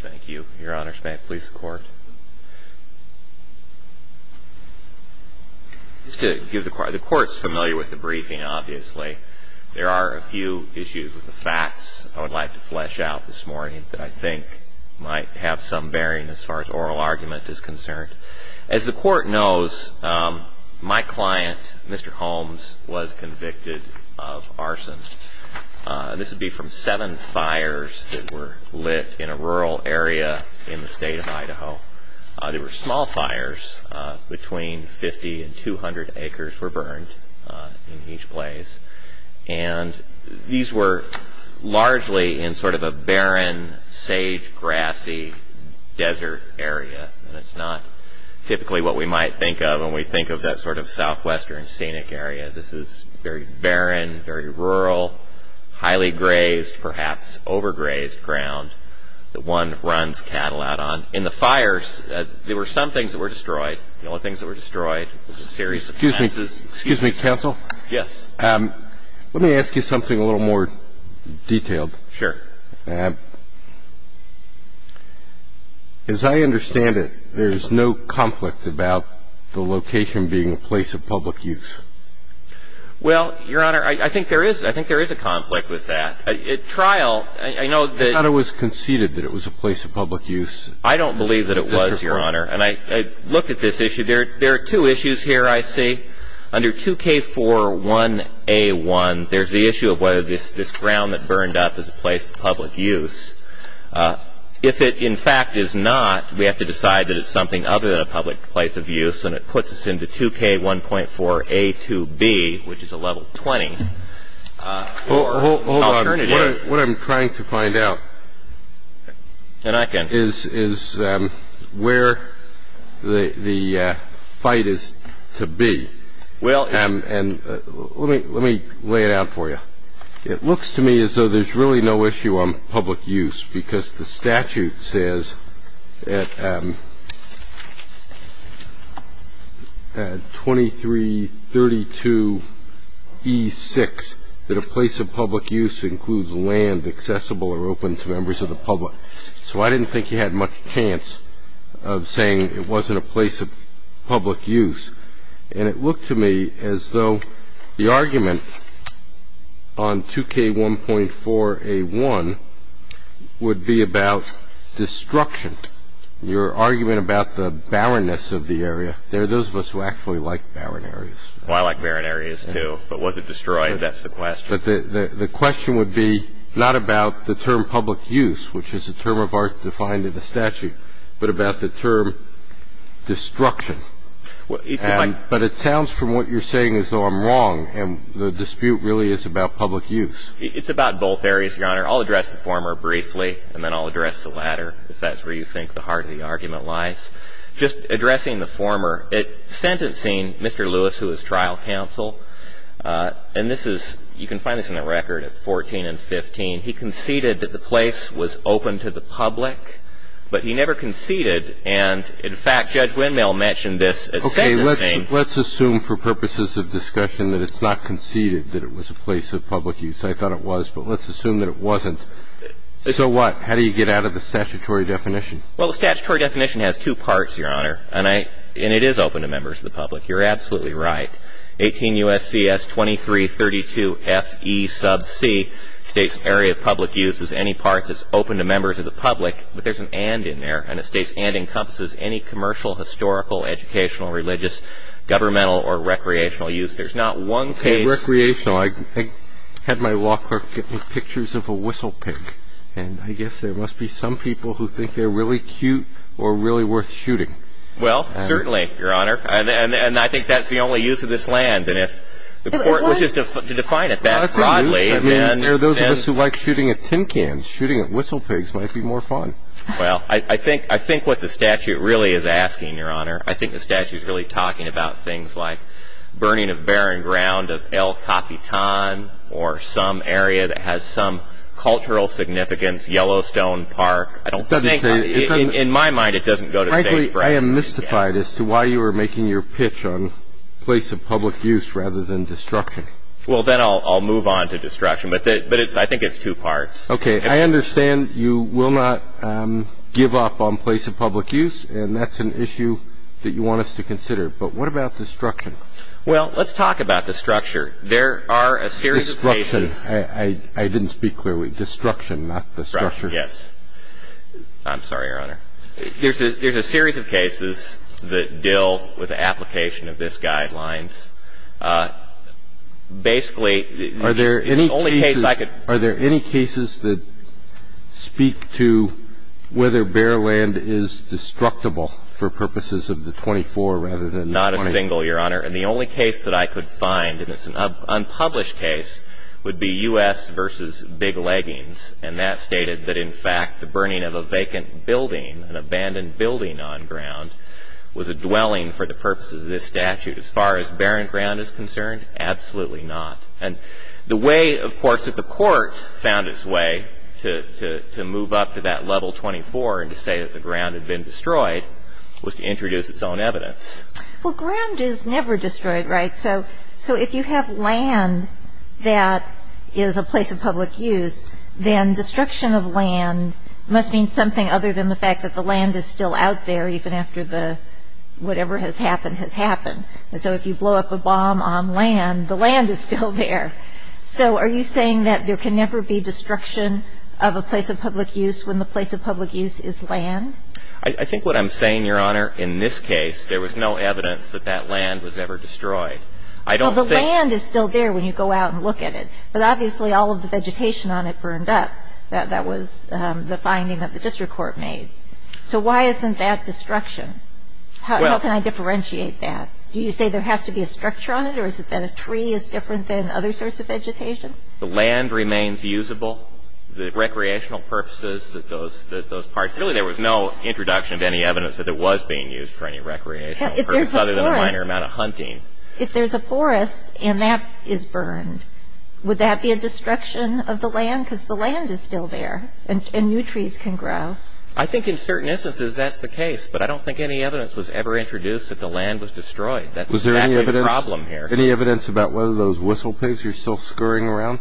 Thank you, Your Honor. May it please the Court. Just to give the Court, the Court's familiar with the briefing, obviously. There are a few issues with the facts I would like to flesh out this morning that I think might have some bearing as far as oral argument is concerned. As the Court knows, my client, Mr. Holmes, was convicted of arson. This would be from seven fires that were lit in a rural area in the state of Idaho. They were small fires. Between 50 and 200 acres were burned in each place. And these were largely in sort of a barren, sage, grassy desert area. And it's not typically what we might think of when we think of that sort of southwestern scenic area. This is very barren, very rural, highly grazed, perhaps overgrazed ground that one runs cattle out on. In the fires, there were some things that were destroyed. The only things that were destroyed was a series of fences. Excuse me. Excuse me, counsel. Yes. Let me ask you something a little more detailed. Sure. As I understand it, there's no conflict about the location being a place of public use. Well, Your Honor, I think there is. I think there is a conflict with that. At trial, I know that ---- I thought it was conceded that it was a place of public use. I don't believe that it was, Your Honor. And I look at this issue. There are two issues here I see. Under 2K41A1, there's the issue of whether this ground that burned up is a place of public use. If it, in fact, is not, we have to decide that it's something other than a public place of use, and it puts us into 2K1.4A2B, which is a level 20 alternative. What I'm trying to find out is where the fight is to be. Well ---- And let me lay it out for you. It looks to me as though there's really no issue on public use because the statute says at 2332E6 that a place of public use includes land accessible or open to members of the public. So I didn't think you had much chance of saying it wasn't a place of public use. And it looked to me as though the argument on 2K1.4A1 would be about destruction, your argument about the barrenness of the area. There are those of us who actually like barren areas. Well, I like barren areas, too. But was it destroyed? That's the question. But the question would be not about the term public use, which is a term of art defined in the statute, but about the term destruction. But it sounds from what you're saying as though I'm wrong, and the dispute really is about public use. It's about both areas, Your Honor. I'll address the former briefly, and then I'll address the latter, if that's where you think the heart of the argument lies. Just addressing the former, sentencing Mr. Lewis, who was trial counsel, and this is ---- you can find this in the record at 14 and 15. He conceded that the place was open to the public, but he never conceded. And, in fact, Judge Windmill mentioned this at sentencing. Okay. Let's assume for purposes of discussion that it's not conceded that it was a place of public use. I thought it was. But let's assume that it wasn't. So what? How do you get out of the statutory definition? Well, the statutory definition has two parts, Your Honor. And it is open to members of the public. You're absolutely right. 18 U.S.C.S. 2332 F.E. sub C states area of public use is any park that's open to members of the public. But there's an and in there, and it states and encompasses any commercial, historical, educational, religious, governmental, or recreational use. There's not one case ---- Recreational. I had my law clerk get me pictures of a whistle pick, and I guess there must be some people who think they're really cute or really worth shooting. Well, certainly, Your Honor. And I think that's the only use of this land. And if the court wishes to define it that broadly, then ---- Well, that's good news. I mean, there are those of us who like shooting at tin cans. Shooting at whistle pigs might be more fun. Well, I think what the statute really is asking, Your Honor, I think the statute is really talking about things like burning of barren ground of El Capitan or some area that has some cultural significance, Yellowstone Park. I don't think ---- It doesn't say ---- In my mind, it doesn't go to stage breaks. Actually, I am mystified as to why you are making your pitch on place of public use rather than destruction. Well, then I'll move on to destruction. But I think it's two parts. Okay. I understand you will not give up on place of public use, and that's an issue that you want us to consider. But what about destruction? Well, let's talk about the structure. There are a series of cases ---- Destruction. I didn't speak clearly. Destruction, not destruction. Yes. I'm sorry, Your Honor. There's a series of cases that deal with the application of this Guidelines. Basically, the only case I could ---- Are there any cases that speak to whether bare land is destructible for purposes of the 24 rather than the 20? Not a single, Your Honor. And the only case that I could find, and it's an unpublished case, would be U.S. v. Big Leggings. And that stated that, in fact, the burning of a vacant building, an abandoned building on ground, was a dwelling for the purposes of this statute. As far as barren ground is concerned, absolutely not. And the way, of course, that the Court found its way to move up to that level 24 and to say that the ground had been destroyed was to introduce its own evidence. Well, ground is never destroyed, right? So if you have land that is a place of public use, then destruction of land must mean something other than the fact that the land is still out there, even after the whatever has happened has happened. And so if you blow up a bomb on land, the land is still there. So are you saying that there can never be destruction of a place of public use when the place of public use is land? I think what I'm saying, Your Honor, in this case, there was no evidence that that land was ever destroyed. I don't think the land is still there when you go out and look at it. But obviously, all of the vegetation on it burned up. That was the finding that the district court made. So why isn't that destruction? How can I differentiate that? Do you say there has to be a structure on it, or is it that a tree is different than other sorts of vegetation? The land remains usable. The recreational purposes that those parts – Really, there was no introduction of any evidence that it was being used for any recreational purpose other than a minor amount of hunting. If there's a forest and that is burned, would that be a destruction of the land? Because the land is still there, and new trees can grow. I think in certain instances that's the case, but I don't think any evidence was ever introduced that the land was destroyed. That's the problem here. Was there any evidence about whether those whistlepigs are still scurrying around?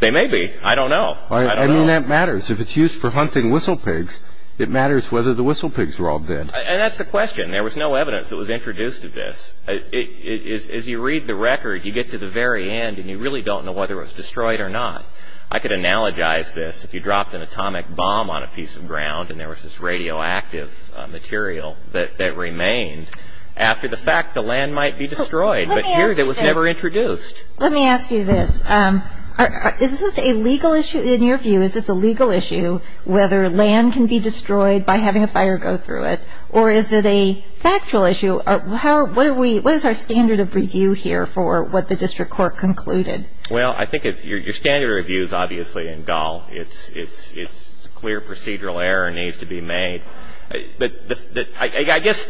They may be. I don't know. I mean, that matters. If it's used for hunting whistlepigs, it matters whether the whistlepigs were all dead. And that's the question. There was no evidence that was introduced of this. As you read the record, you get to the very end, and you really don't know whether it was destroyed or not. I could analogize this. If you dropped an atomic bomb on a piece of ground and there was this radioactive material that remained after the fact, the land might be destroyed, but here it was never introduced. Let me ask you this. Is this a legal issue in your view? Is this a legal issue whether land can be destroyed by having a fire go through it, or is it a factual issue? What is our standard of review here for what the district court concluded? Well, I think your standard of review is obviously in dull. It's clear procedural error needs to be made. But I guess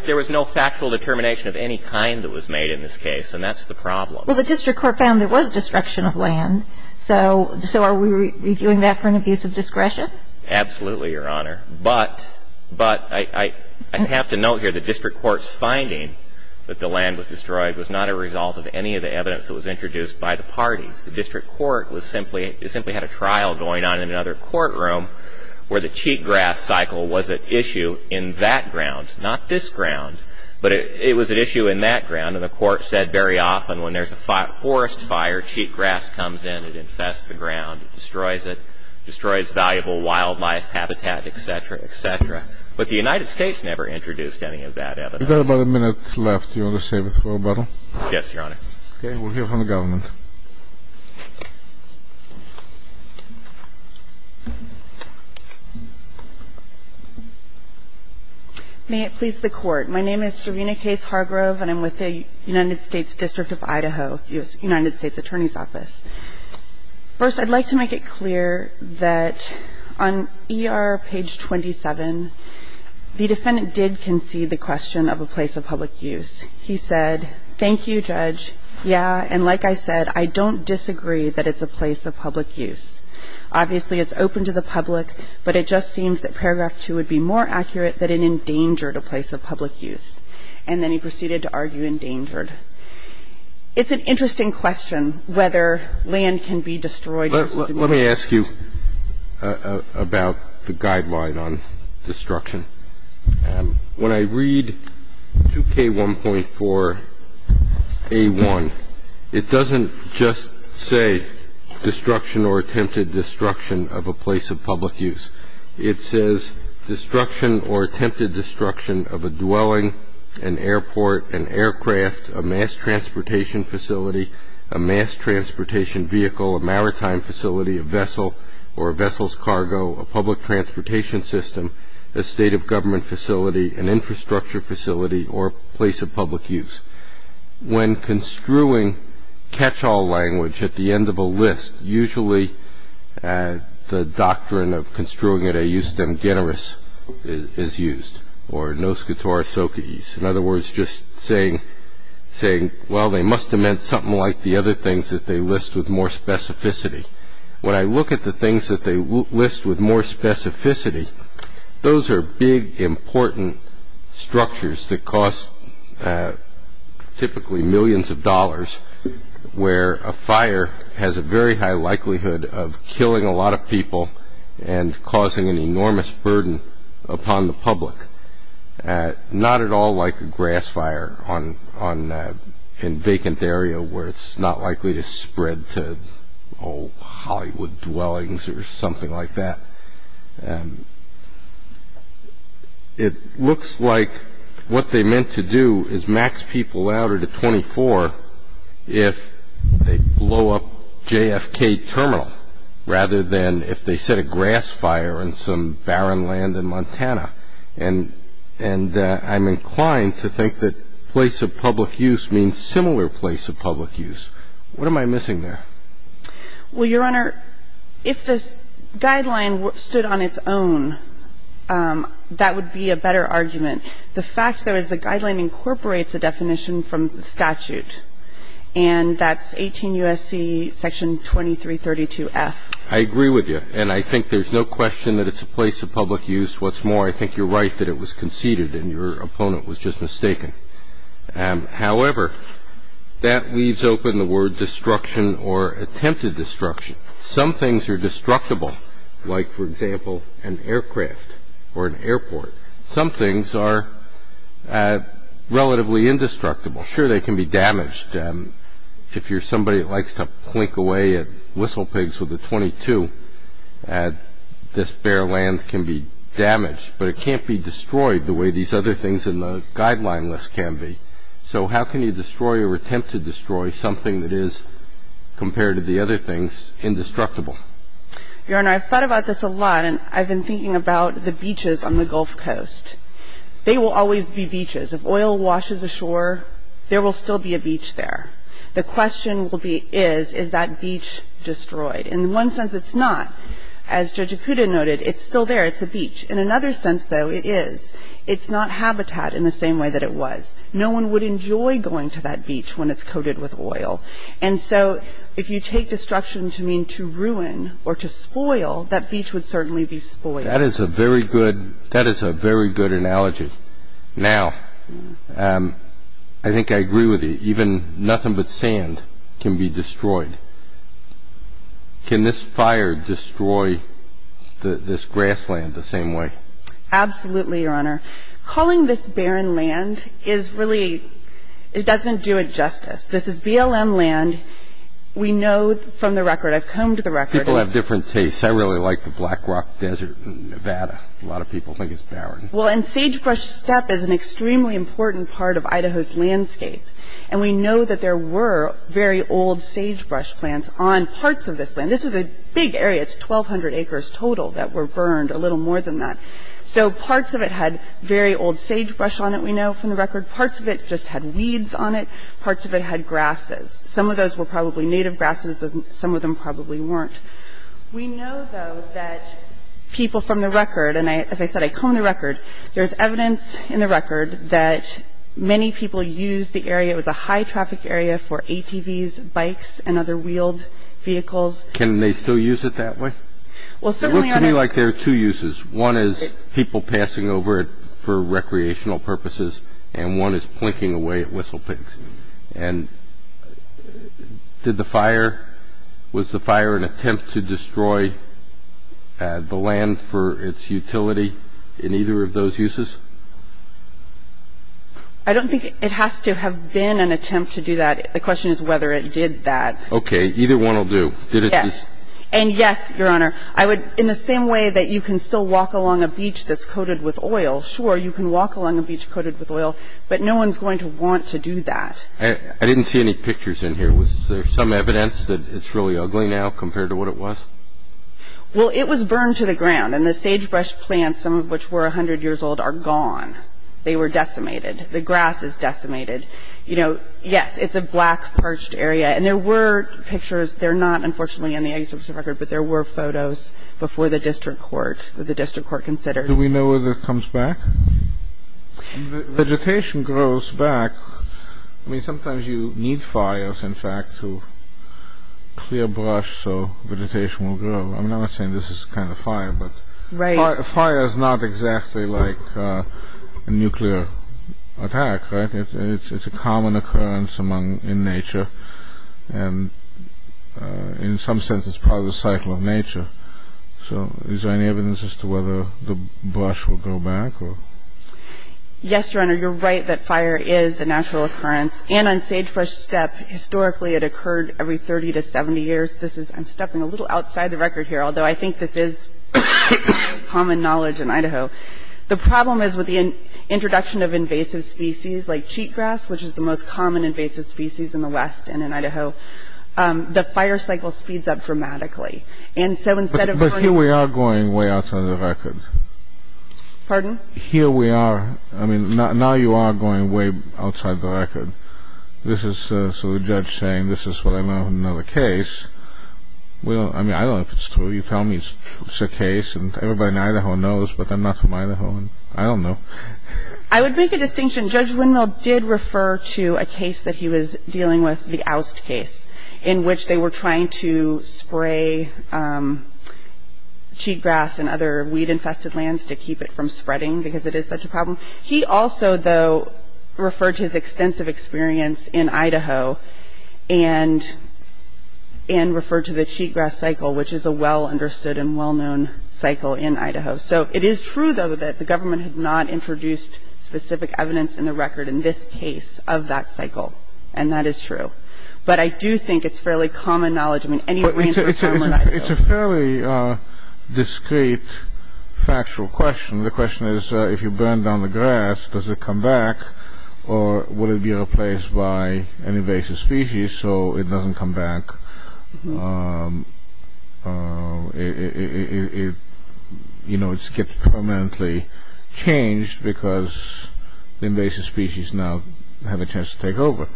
there was no factual determination of any kind that was made in this case, and that's the problem. Well, the district court found there was destruction of land, so are we reviewing that for an abuse of discretion? Absolutely, Your Honor. But I have to note here the district court's finding that the land was destroyed was not a result of any of the evidence that was introduced by the parties. The district court simply had a trial going on in another courtroom where the cheatgrass cycle was at issue in that ground, not this ground. But it was at issue in that ground, and the court said very often when there's a forest fire, cheatgrass comes in. It infests the ground. It destroys it. It destroys valuable wildlife habitat, et cetera, et cetera. But the United States never introduced any of that evidence. You've got about a minute left. Do you want to say anything about it? Yes, Your Honor. Okay. We'll hear from the government. May it please the Court. My name is Serena Case Hargrove, and I'm with the United States District of Idaho United States Attorney's Office. First, I'd like to make it clear that on ER page 27, the defendant did concede the question of a place of public use. He said, thank you, Judge, yeah, and like I said, I don't disagree that it's a place of public use. Obviously, it's open to the public, but it just seems that paragraph 2 would be more accurate that it endangered a place of public use. And then he proceeded to argue endangered. It's an interesting question whether land can be destroyed. Let me ask you about the guideline on destruction. When I read 2K1.4A1, it doesn't just say destruction or attempted destruction of a place of public use. It says destruction or attempted destruction of a dwelling, an airport, an aircraft, a mass transportation facility, a mass transportation vehicle, a maritime facility, a vessel or a vessel's cargo, a public transportation system, a state of government facility, an infrastructure facility, or a place of public use. When construing catch-all language at the end of a list, usually the doctrine of construing it a eustem generis is used, or nos catoris ocades. In other words, just saying, well, they must have meant something like the other things that they list with more specificity. When I look at the things that they list with more specificity, those are big, important structures that cost typically millions of dollars, where a fire has a very high likelihood of killing a lot of people and causing an enormous burden upon the public. Not at all like a grass fire in a vacant area where it's not likely to spread to old Hollywood dwellings or something like that. It looks like what they meant to do is max people out at a 24 if they blow up JFK Terminal rather than if they set a grass fire in some barren land in Montana. And I'm inclined to think that place of public use means similar place of public use. What am I missing there? Well, Your Honor, if this guideline stood on its own, that would be a better argument. The fact there is the guideline incorporates a definition from the statute, and that's 18 U.S.C. Section 2332f. I agree with you. And I think there's no question that it's a place of public use. What's more, I think you're right that it was conceded and your opponent was just mistaken. However, that leaves open the word destruction or attempted destruction. Some things are destructible, like, for example, an aircraft or an airport. Some things are relatively indestructible. Sure, they can be damaged. If you're somebody that likes to plink away at whistlepigs with a .22, this bare land can be damaged. But it can't be destroyed the way these other things in the guideline list can be. So how can you destroy or attempt to destroy something that is, compared to the other things, indestructible? Your Honor, I've thought about this a lot, and I've been thinking about the beaches on the Gulf Coast. They will always be beaches. If oil washes ashore, there will still be a beach there. The question will be is, is that beach destroyed? In one sense, it's not. It's a beach. In another sense, though, it is. It's not habitat in the same way that it was. No one would enjoy going to that beach when it's coated with oil. And so if you take destruction to mean to ruin or to spoil, that beach would certainly be spoiled. That is a very good analogy. Now, I think I agree with you. Even nothing but sand can be destroyed. Can this fire destroy this grassland the same way? Absolutely, Your Honor. Calling this barren land is really, it doesn't do it justice. This is BLM land. We know from the record, I've combed the record. People have different tastes. I really like the Black Rock Desert in Nevada. A lot of people think it's barren. Well, and Sagebrush Steppe is an extremely important part of Idaho's landscape. And we know that there were very old sagebrush plants on parts of this land. This was a big area. It's 1,200 acres total that were burned, a little more than that. So parts of it had very old sagebrush on it, we know from the record. Parts of it just had weeds on it. Parts of it had grasses. Some of those were probably native grasses and some of them probably weren't. We know, though, that people from the record, and as I said, I combed the record, there's evidence in the record that many people used the area. It was a high-traffic area for ATVs, bikes, and other wheeled vehicles. Can they still use it that way? Well, certainly, Your Honor. It looked to me like there are two uses. One is people passing over it for recreational purposes, and one is plinking away at whistlepigs. And did the fire, was the fire an attempt to destroy the land for its utility in either of those uses? I don't think it has to have been an attempt to do that. The question is whether it did that. Okay. Either one will do. Yes. And yes, Your Honor, I would, in the same way that you can still walk along a beach that's coated with oil, sure, you can walk along a beach coated with oil, but no one's going to want to do that. I didn't see any pictures in here. Was there some evidence that it's really ugly now compared to what it was? Well, it was burned to the ground, and the sagebrush plants, some of which were 100 years old, are gone. They were decimated. The grass is decimated. You know, yes, it's a black, parched area. And there were pictures. They're not, unfortunately, in the executive record, but there were photos before the district court that the district court considered. Do we know whether it comes back? Vegetation grows back. I mean, sometimes you need fires, in fact, to clear brush so vegetation will grow. I'm not saying this is kind of fire, but fire is not exactly like a nuclear attack, right? It's a common occurrence in nature, and in some sense, it's part of the cycle of nature. So is there any evidence as to whether the brush will grow back? Yes, Your Honor. You're right that fire is a natural occurrence. And on sagebrush steppe, historically, it occurred every 30 to 70 years. This is ‑‑ I'm stepping a little outside the record here, although I think this is common knowledge in Idaho. The problem is with the introduction of invasive species like cheatgrass, which is the most common invasive species in the West and in Idaho, the fire cycle speeds up dramatically. And so instead of going ‑‑ But here we are going way outside the record. Pardon? Here we are. I mean, now you are going way outside the record. This is ‑‑ so the judge saying this is what I know in another case. I mean, I don't know if it's true. You tell me it's a case, and everybody in Idaho knows, but I'm not from Idaho, and I don't know. I would make a distinction. Judge Winrel did refer to a case that he was dealing with, the Oust case, in which they were trying to spray cheatgrass and other weed‑infested lands to keep it from spreading because it is such a problem. He also, though, referred to his extensive experience in Idaho and referred to the cheatgrass cycle, which is a well‑understood and well‑known cycle in Idaho. So it is true, though, that the government had not introduced specific evidence in the record in this case of that cycle, and that is true. But I do think it's fairly common knowledge. I mean, any way we answer the question, we're not going to. It's a fairly discrete, factual question. The question is, if you burn down the grass, does it come back, or would it be replaced by an invasive species so it doesn't come back? You know, it gets permanently changed because the invasive species now have a chance to take over.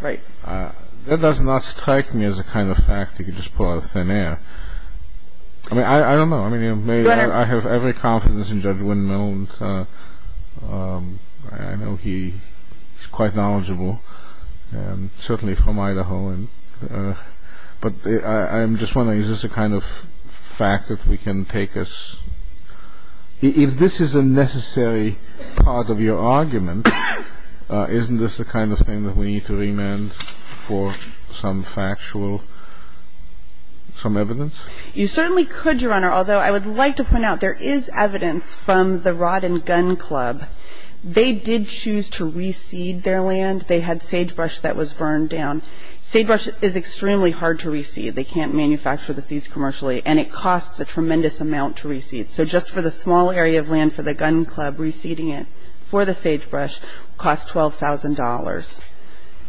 Right. That does not strike me as a kind of fact you could just pull out of thin air. I mean, I don't know. I mean, I have every confidence in Judge Windmill. I know he's quite knowledgeable, certainly from Idaho. But I'm just wondering, is this a kind of fact that we can take as... If this is a necessary part of your argument, isn't this the kind of thing that we need to remand for some factual, some evidence? You certainly could, Your Honor, although I would like to point out, there is evidence from the Rod and Gun Club. They did choose to reseed their land. They had sagebrush that was burned down. Sagebrush is extremely hard to reseed. They can't manufacture the seeds commercially, and it costs a tremendous amount to reseed. So just for the small area of land for the Gun Club, reseeding it for the sagebrush costs $12,000.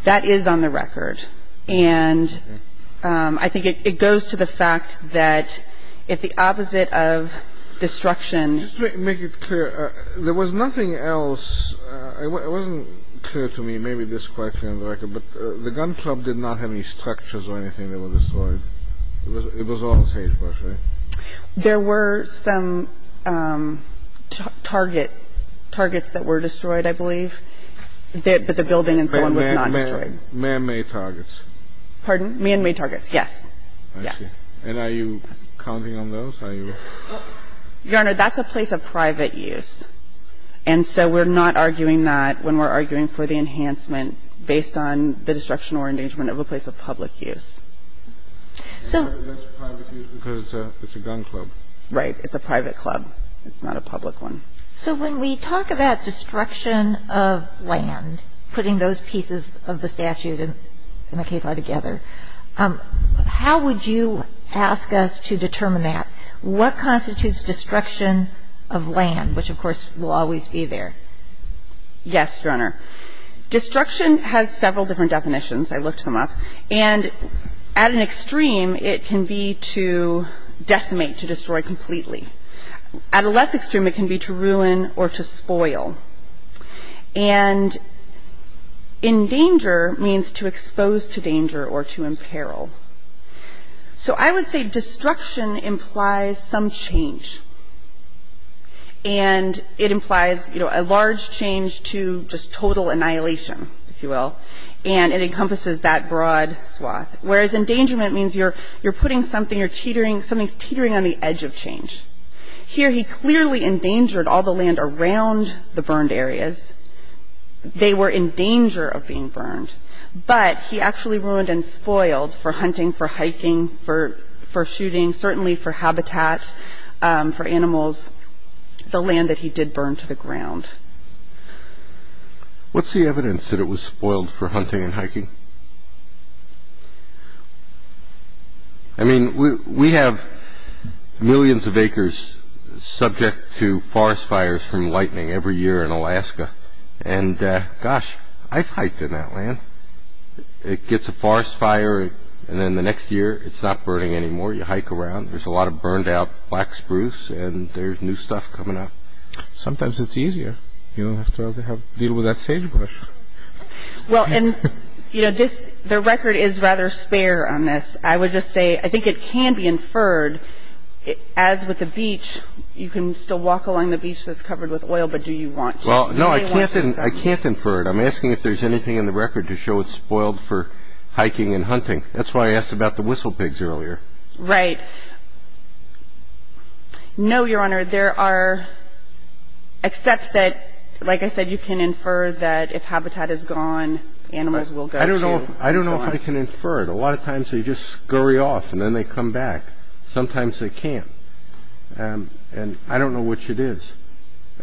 That is on the record. And I think it goes to the fact that if the opposite of destruction... Just to make it clear, there was nothing else. It wasn't clear to me, maybe this is quite clear on the record, but the Gun Club did not have any structures or anything that were destroyed. It was all sagebrush, right? There were some target – targets that were destroyed, I believe, but the building and so on was not destroyed. Man-made targets. Pardon? Man-made targets, yes. I see. And are you counting on those? Are you... Your Honor, that's a place of private use, and so we're not arguing that when we're arguing for the enhancement based on the destruction or endangerment of a place of public use. That's a private use because it's a gun club. Right. It's a private club. It's not a public one. So when we talk about destruction of land, putting those pieces of the statute and the case law together, how would you ask us to determine that? What constitutes destruction of land, which, of course, will always be there? Yes, Your Honor. Destruction has several different definitions. I looked them up. And at an extreme, it can be to decimate, to destroy completely. At a less extreme, it can be to ruin or to spoil. And endanger means to expose to danger or to imperil. So I would say destruction implies some change. And it implies a large change to just total annihilation, if you will. And it encompasses that broad swath. Whereas endangerment means you're putting something, you're teetering, something's teetering on the edge of change. Here he clearly endangered all the land around the burned areas. They were in danger of being burned. But he actually ruined and spoiled for hunting, for hiking, for shooting, certainly for habitat, for animals, the land that he did burn to the ground. What's the evidence that it was spoiled for hunting and hiking? I mean, we have millions of acres subject to forest fires from lightning every year in Alaska. And, gosh, I've hiked in that land. It gets a forest fire, and then the next year it's not burning anymore. You hike around. There's a lot of burned out black spruce, and there's new stuff coming up. Sometimes it's easier. You don't have to deal with that sagebrush. Well, and, you know, the record is rather spare on this. I would just say I think it can be inferred, as with the beach, you can still walk along the beach that's covered with oil, but do you want to? Well, no, I can't infer it. I'm asking if there's anything in the record to show it's spoiled for hiking and hunting. That's why I asked about the whistle pigs earlier. Right. No, Your Honor, there are, except that, like I said, you can infer that if habitat is gone, animals will go to. I don't know if I can infer it. A lot of times they just scurry off, and then they come back. Sometimes they can't. And I don't know which it is.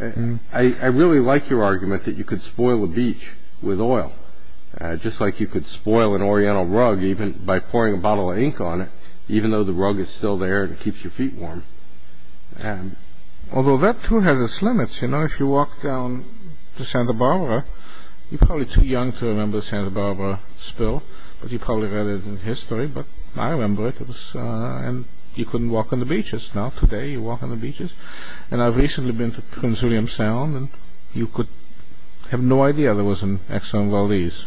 I really like your argument that you could spoil a beach with oil, just like you could spoil an Oriental rug even by pouring a bottle of ink on it, even though the rug is still there and it keeps your feet warm. Although that, too, has its limits. You know, if you walk down to Santa Barbara, you're probably too young to remember the Santa Barbara spill, but you probably read it in history. But I remember it, and you couldn't walk on the beaches. Now, today, you walk on the beaches. And I've recently been to Prince William Sound, and you could have no idea there was an excellent Valdez.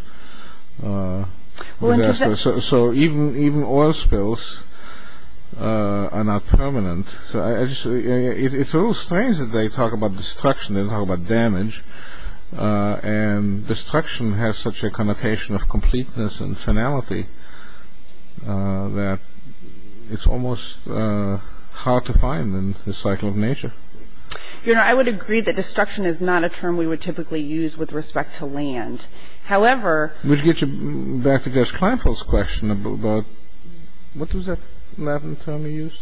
So even oil spills are not permanent. It's a little strange that they talk about destruction and talk about damage, and destruction has such a connotation of completeness and finality that it's almost hard to find in the cycle of nature. I would agree that destruction is not a term we would typically use with respect to land. However... Would you get back to Jess Kleinfeld's question about... What was that Latin term he used?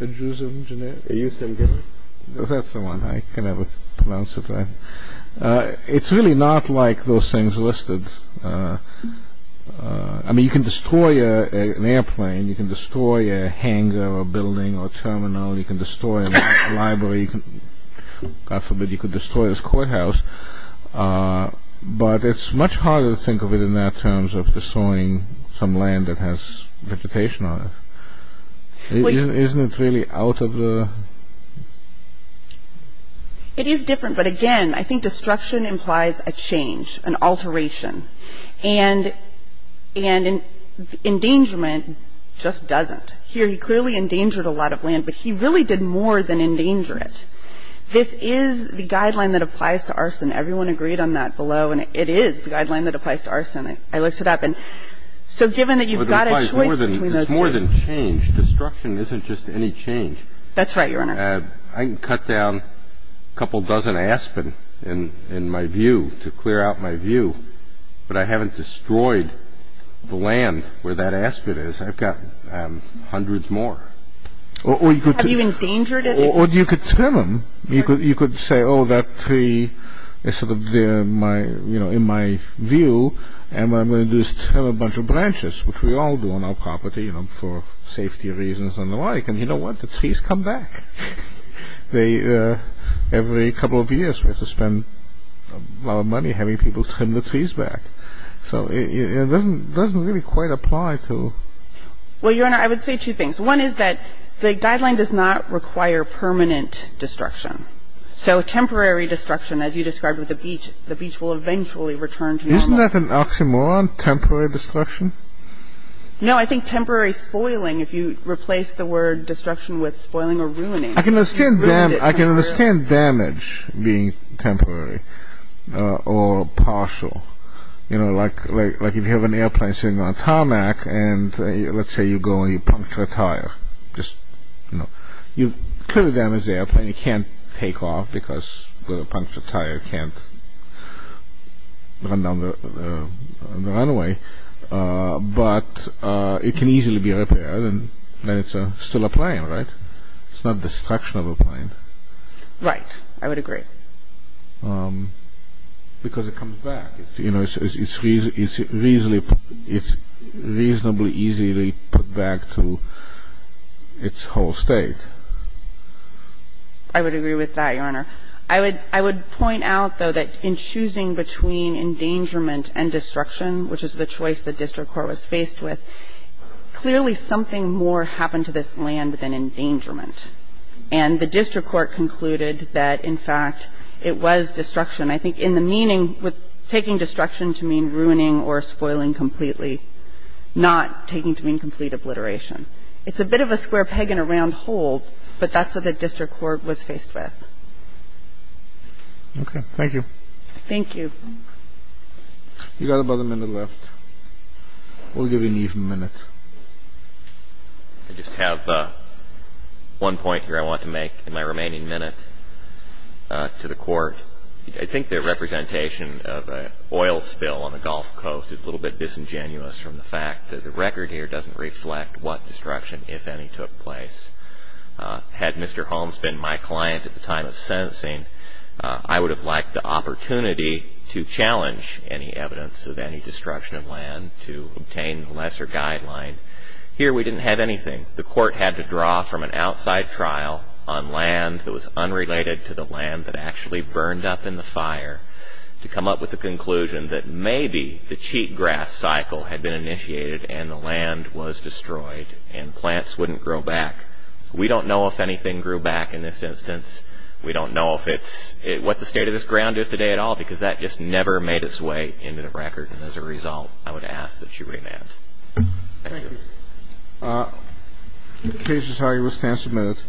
Adjusum generis? Adjusum generis. That's the one. I can never pronounce it right. It's really not like those things listed. I mean, you can destroy an airplane. You can destroy a hangar or a building or a terminal. You can destroy a library. God forbid you could destroy this courthouse. But it's much harder to think of it in that terms of destroying some land that has vegetation on it. Isn't it really out of the... It is different, but again, I think destruction implies a change, an alteration. And endangerment just doesn't. Here he clearly endangered a lot of land, but he really did more than endanger it. And this is the guideline that applies to arson. Everyone agreed on that below, and it is the guideline that applies to arson. I looked it up. And so given that you've got a choice between those two... It's more than change. Destruction isn't just any change. That's right, Your Honor. I can cut down a couple dozen aspen, in my view, to clear out my view. But I haven't destroyed the land where that aspen is. I've got hundreds more. Have you endangered it? Or you could trim them. You could say, oh, that tree is sort of there in my view, and what I'm going to do is trim a bunch of branches, which we all do on our property for safety reasons and the like. And you know what? The trees come back. Every couple of years we have to spend a lot of money having people trim the trees back. So it doesn't really quite apply to... Well, Your Honor, I would say two things. One is that the guideline does not require permanent destruction. So temporary destruction, as you described with the beach, the beach will eventually return to normal. Isn't that an oxymoron, temporary destruction? No, I think temporary spoiling. If you replace the word destruction with spoiling or ruining... I can understand damage being temporary or partial. Like if you have an airplane sitting on a tarmac, and let's say you go and you puncture a tire. You've clearly damaged the airplane. It can't take off because the punctured tire can't run down the runway. But it can easily be repaired, and then it's still a plane, right? It's not destruction of a plane. Right. I would agree. I would agree with that, Your Honor. I would point out, though, that in choosing between endangerment and destruction, which is the choice the district court was faced with, clearly something more happened to this land than endangerment. And the district court concluded that, in fact, was a decision that was made by the district court. And I think that's what the district court was faced with. I think that's what the district court was faced with. And I think that it was destruction. I think in the meaning, taking destruction to mean ruining or spoiling completely, not taking to mean complete obliteration. It's a bit of a square peg in a round hole, but that's what the district court was faced with. Okay. Thank you. Thank you. You've got about a minute left. We'll give you an even minute. I just have one point here I want to make in my remaining minute to the court. I think the representation of an oil spill on the Gulf Coast is a little bit disingenuous from the fact that the record here doesn't reflect what destruction, if any, took place. Had Mr. Holmes been my client at the time of sentencing, I would have lacked the opportunity to challenge any evidence of any destruction of land to obtain the lesser guideline. Here we didn't have anything. The court had to draw from an outside trial on land that was unrelated to the land that actually burned up in the fire to come up with the conclusion that maybe the cheatgrass cycle had been initiated and the land was destroyed and plants wouldn't grow back. We don't know if anything grew back in this instance. We don't know what the state of this ground is today at all because that just never made its way into the record. As a result, I would ask that you remand. Thank you. The case is hired with 10 minutes.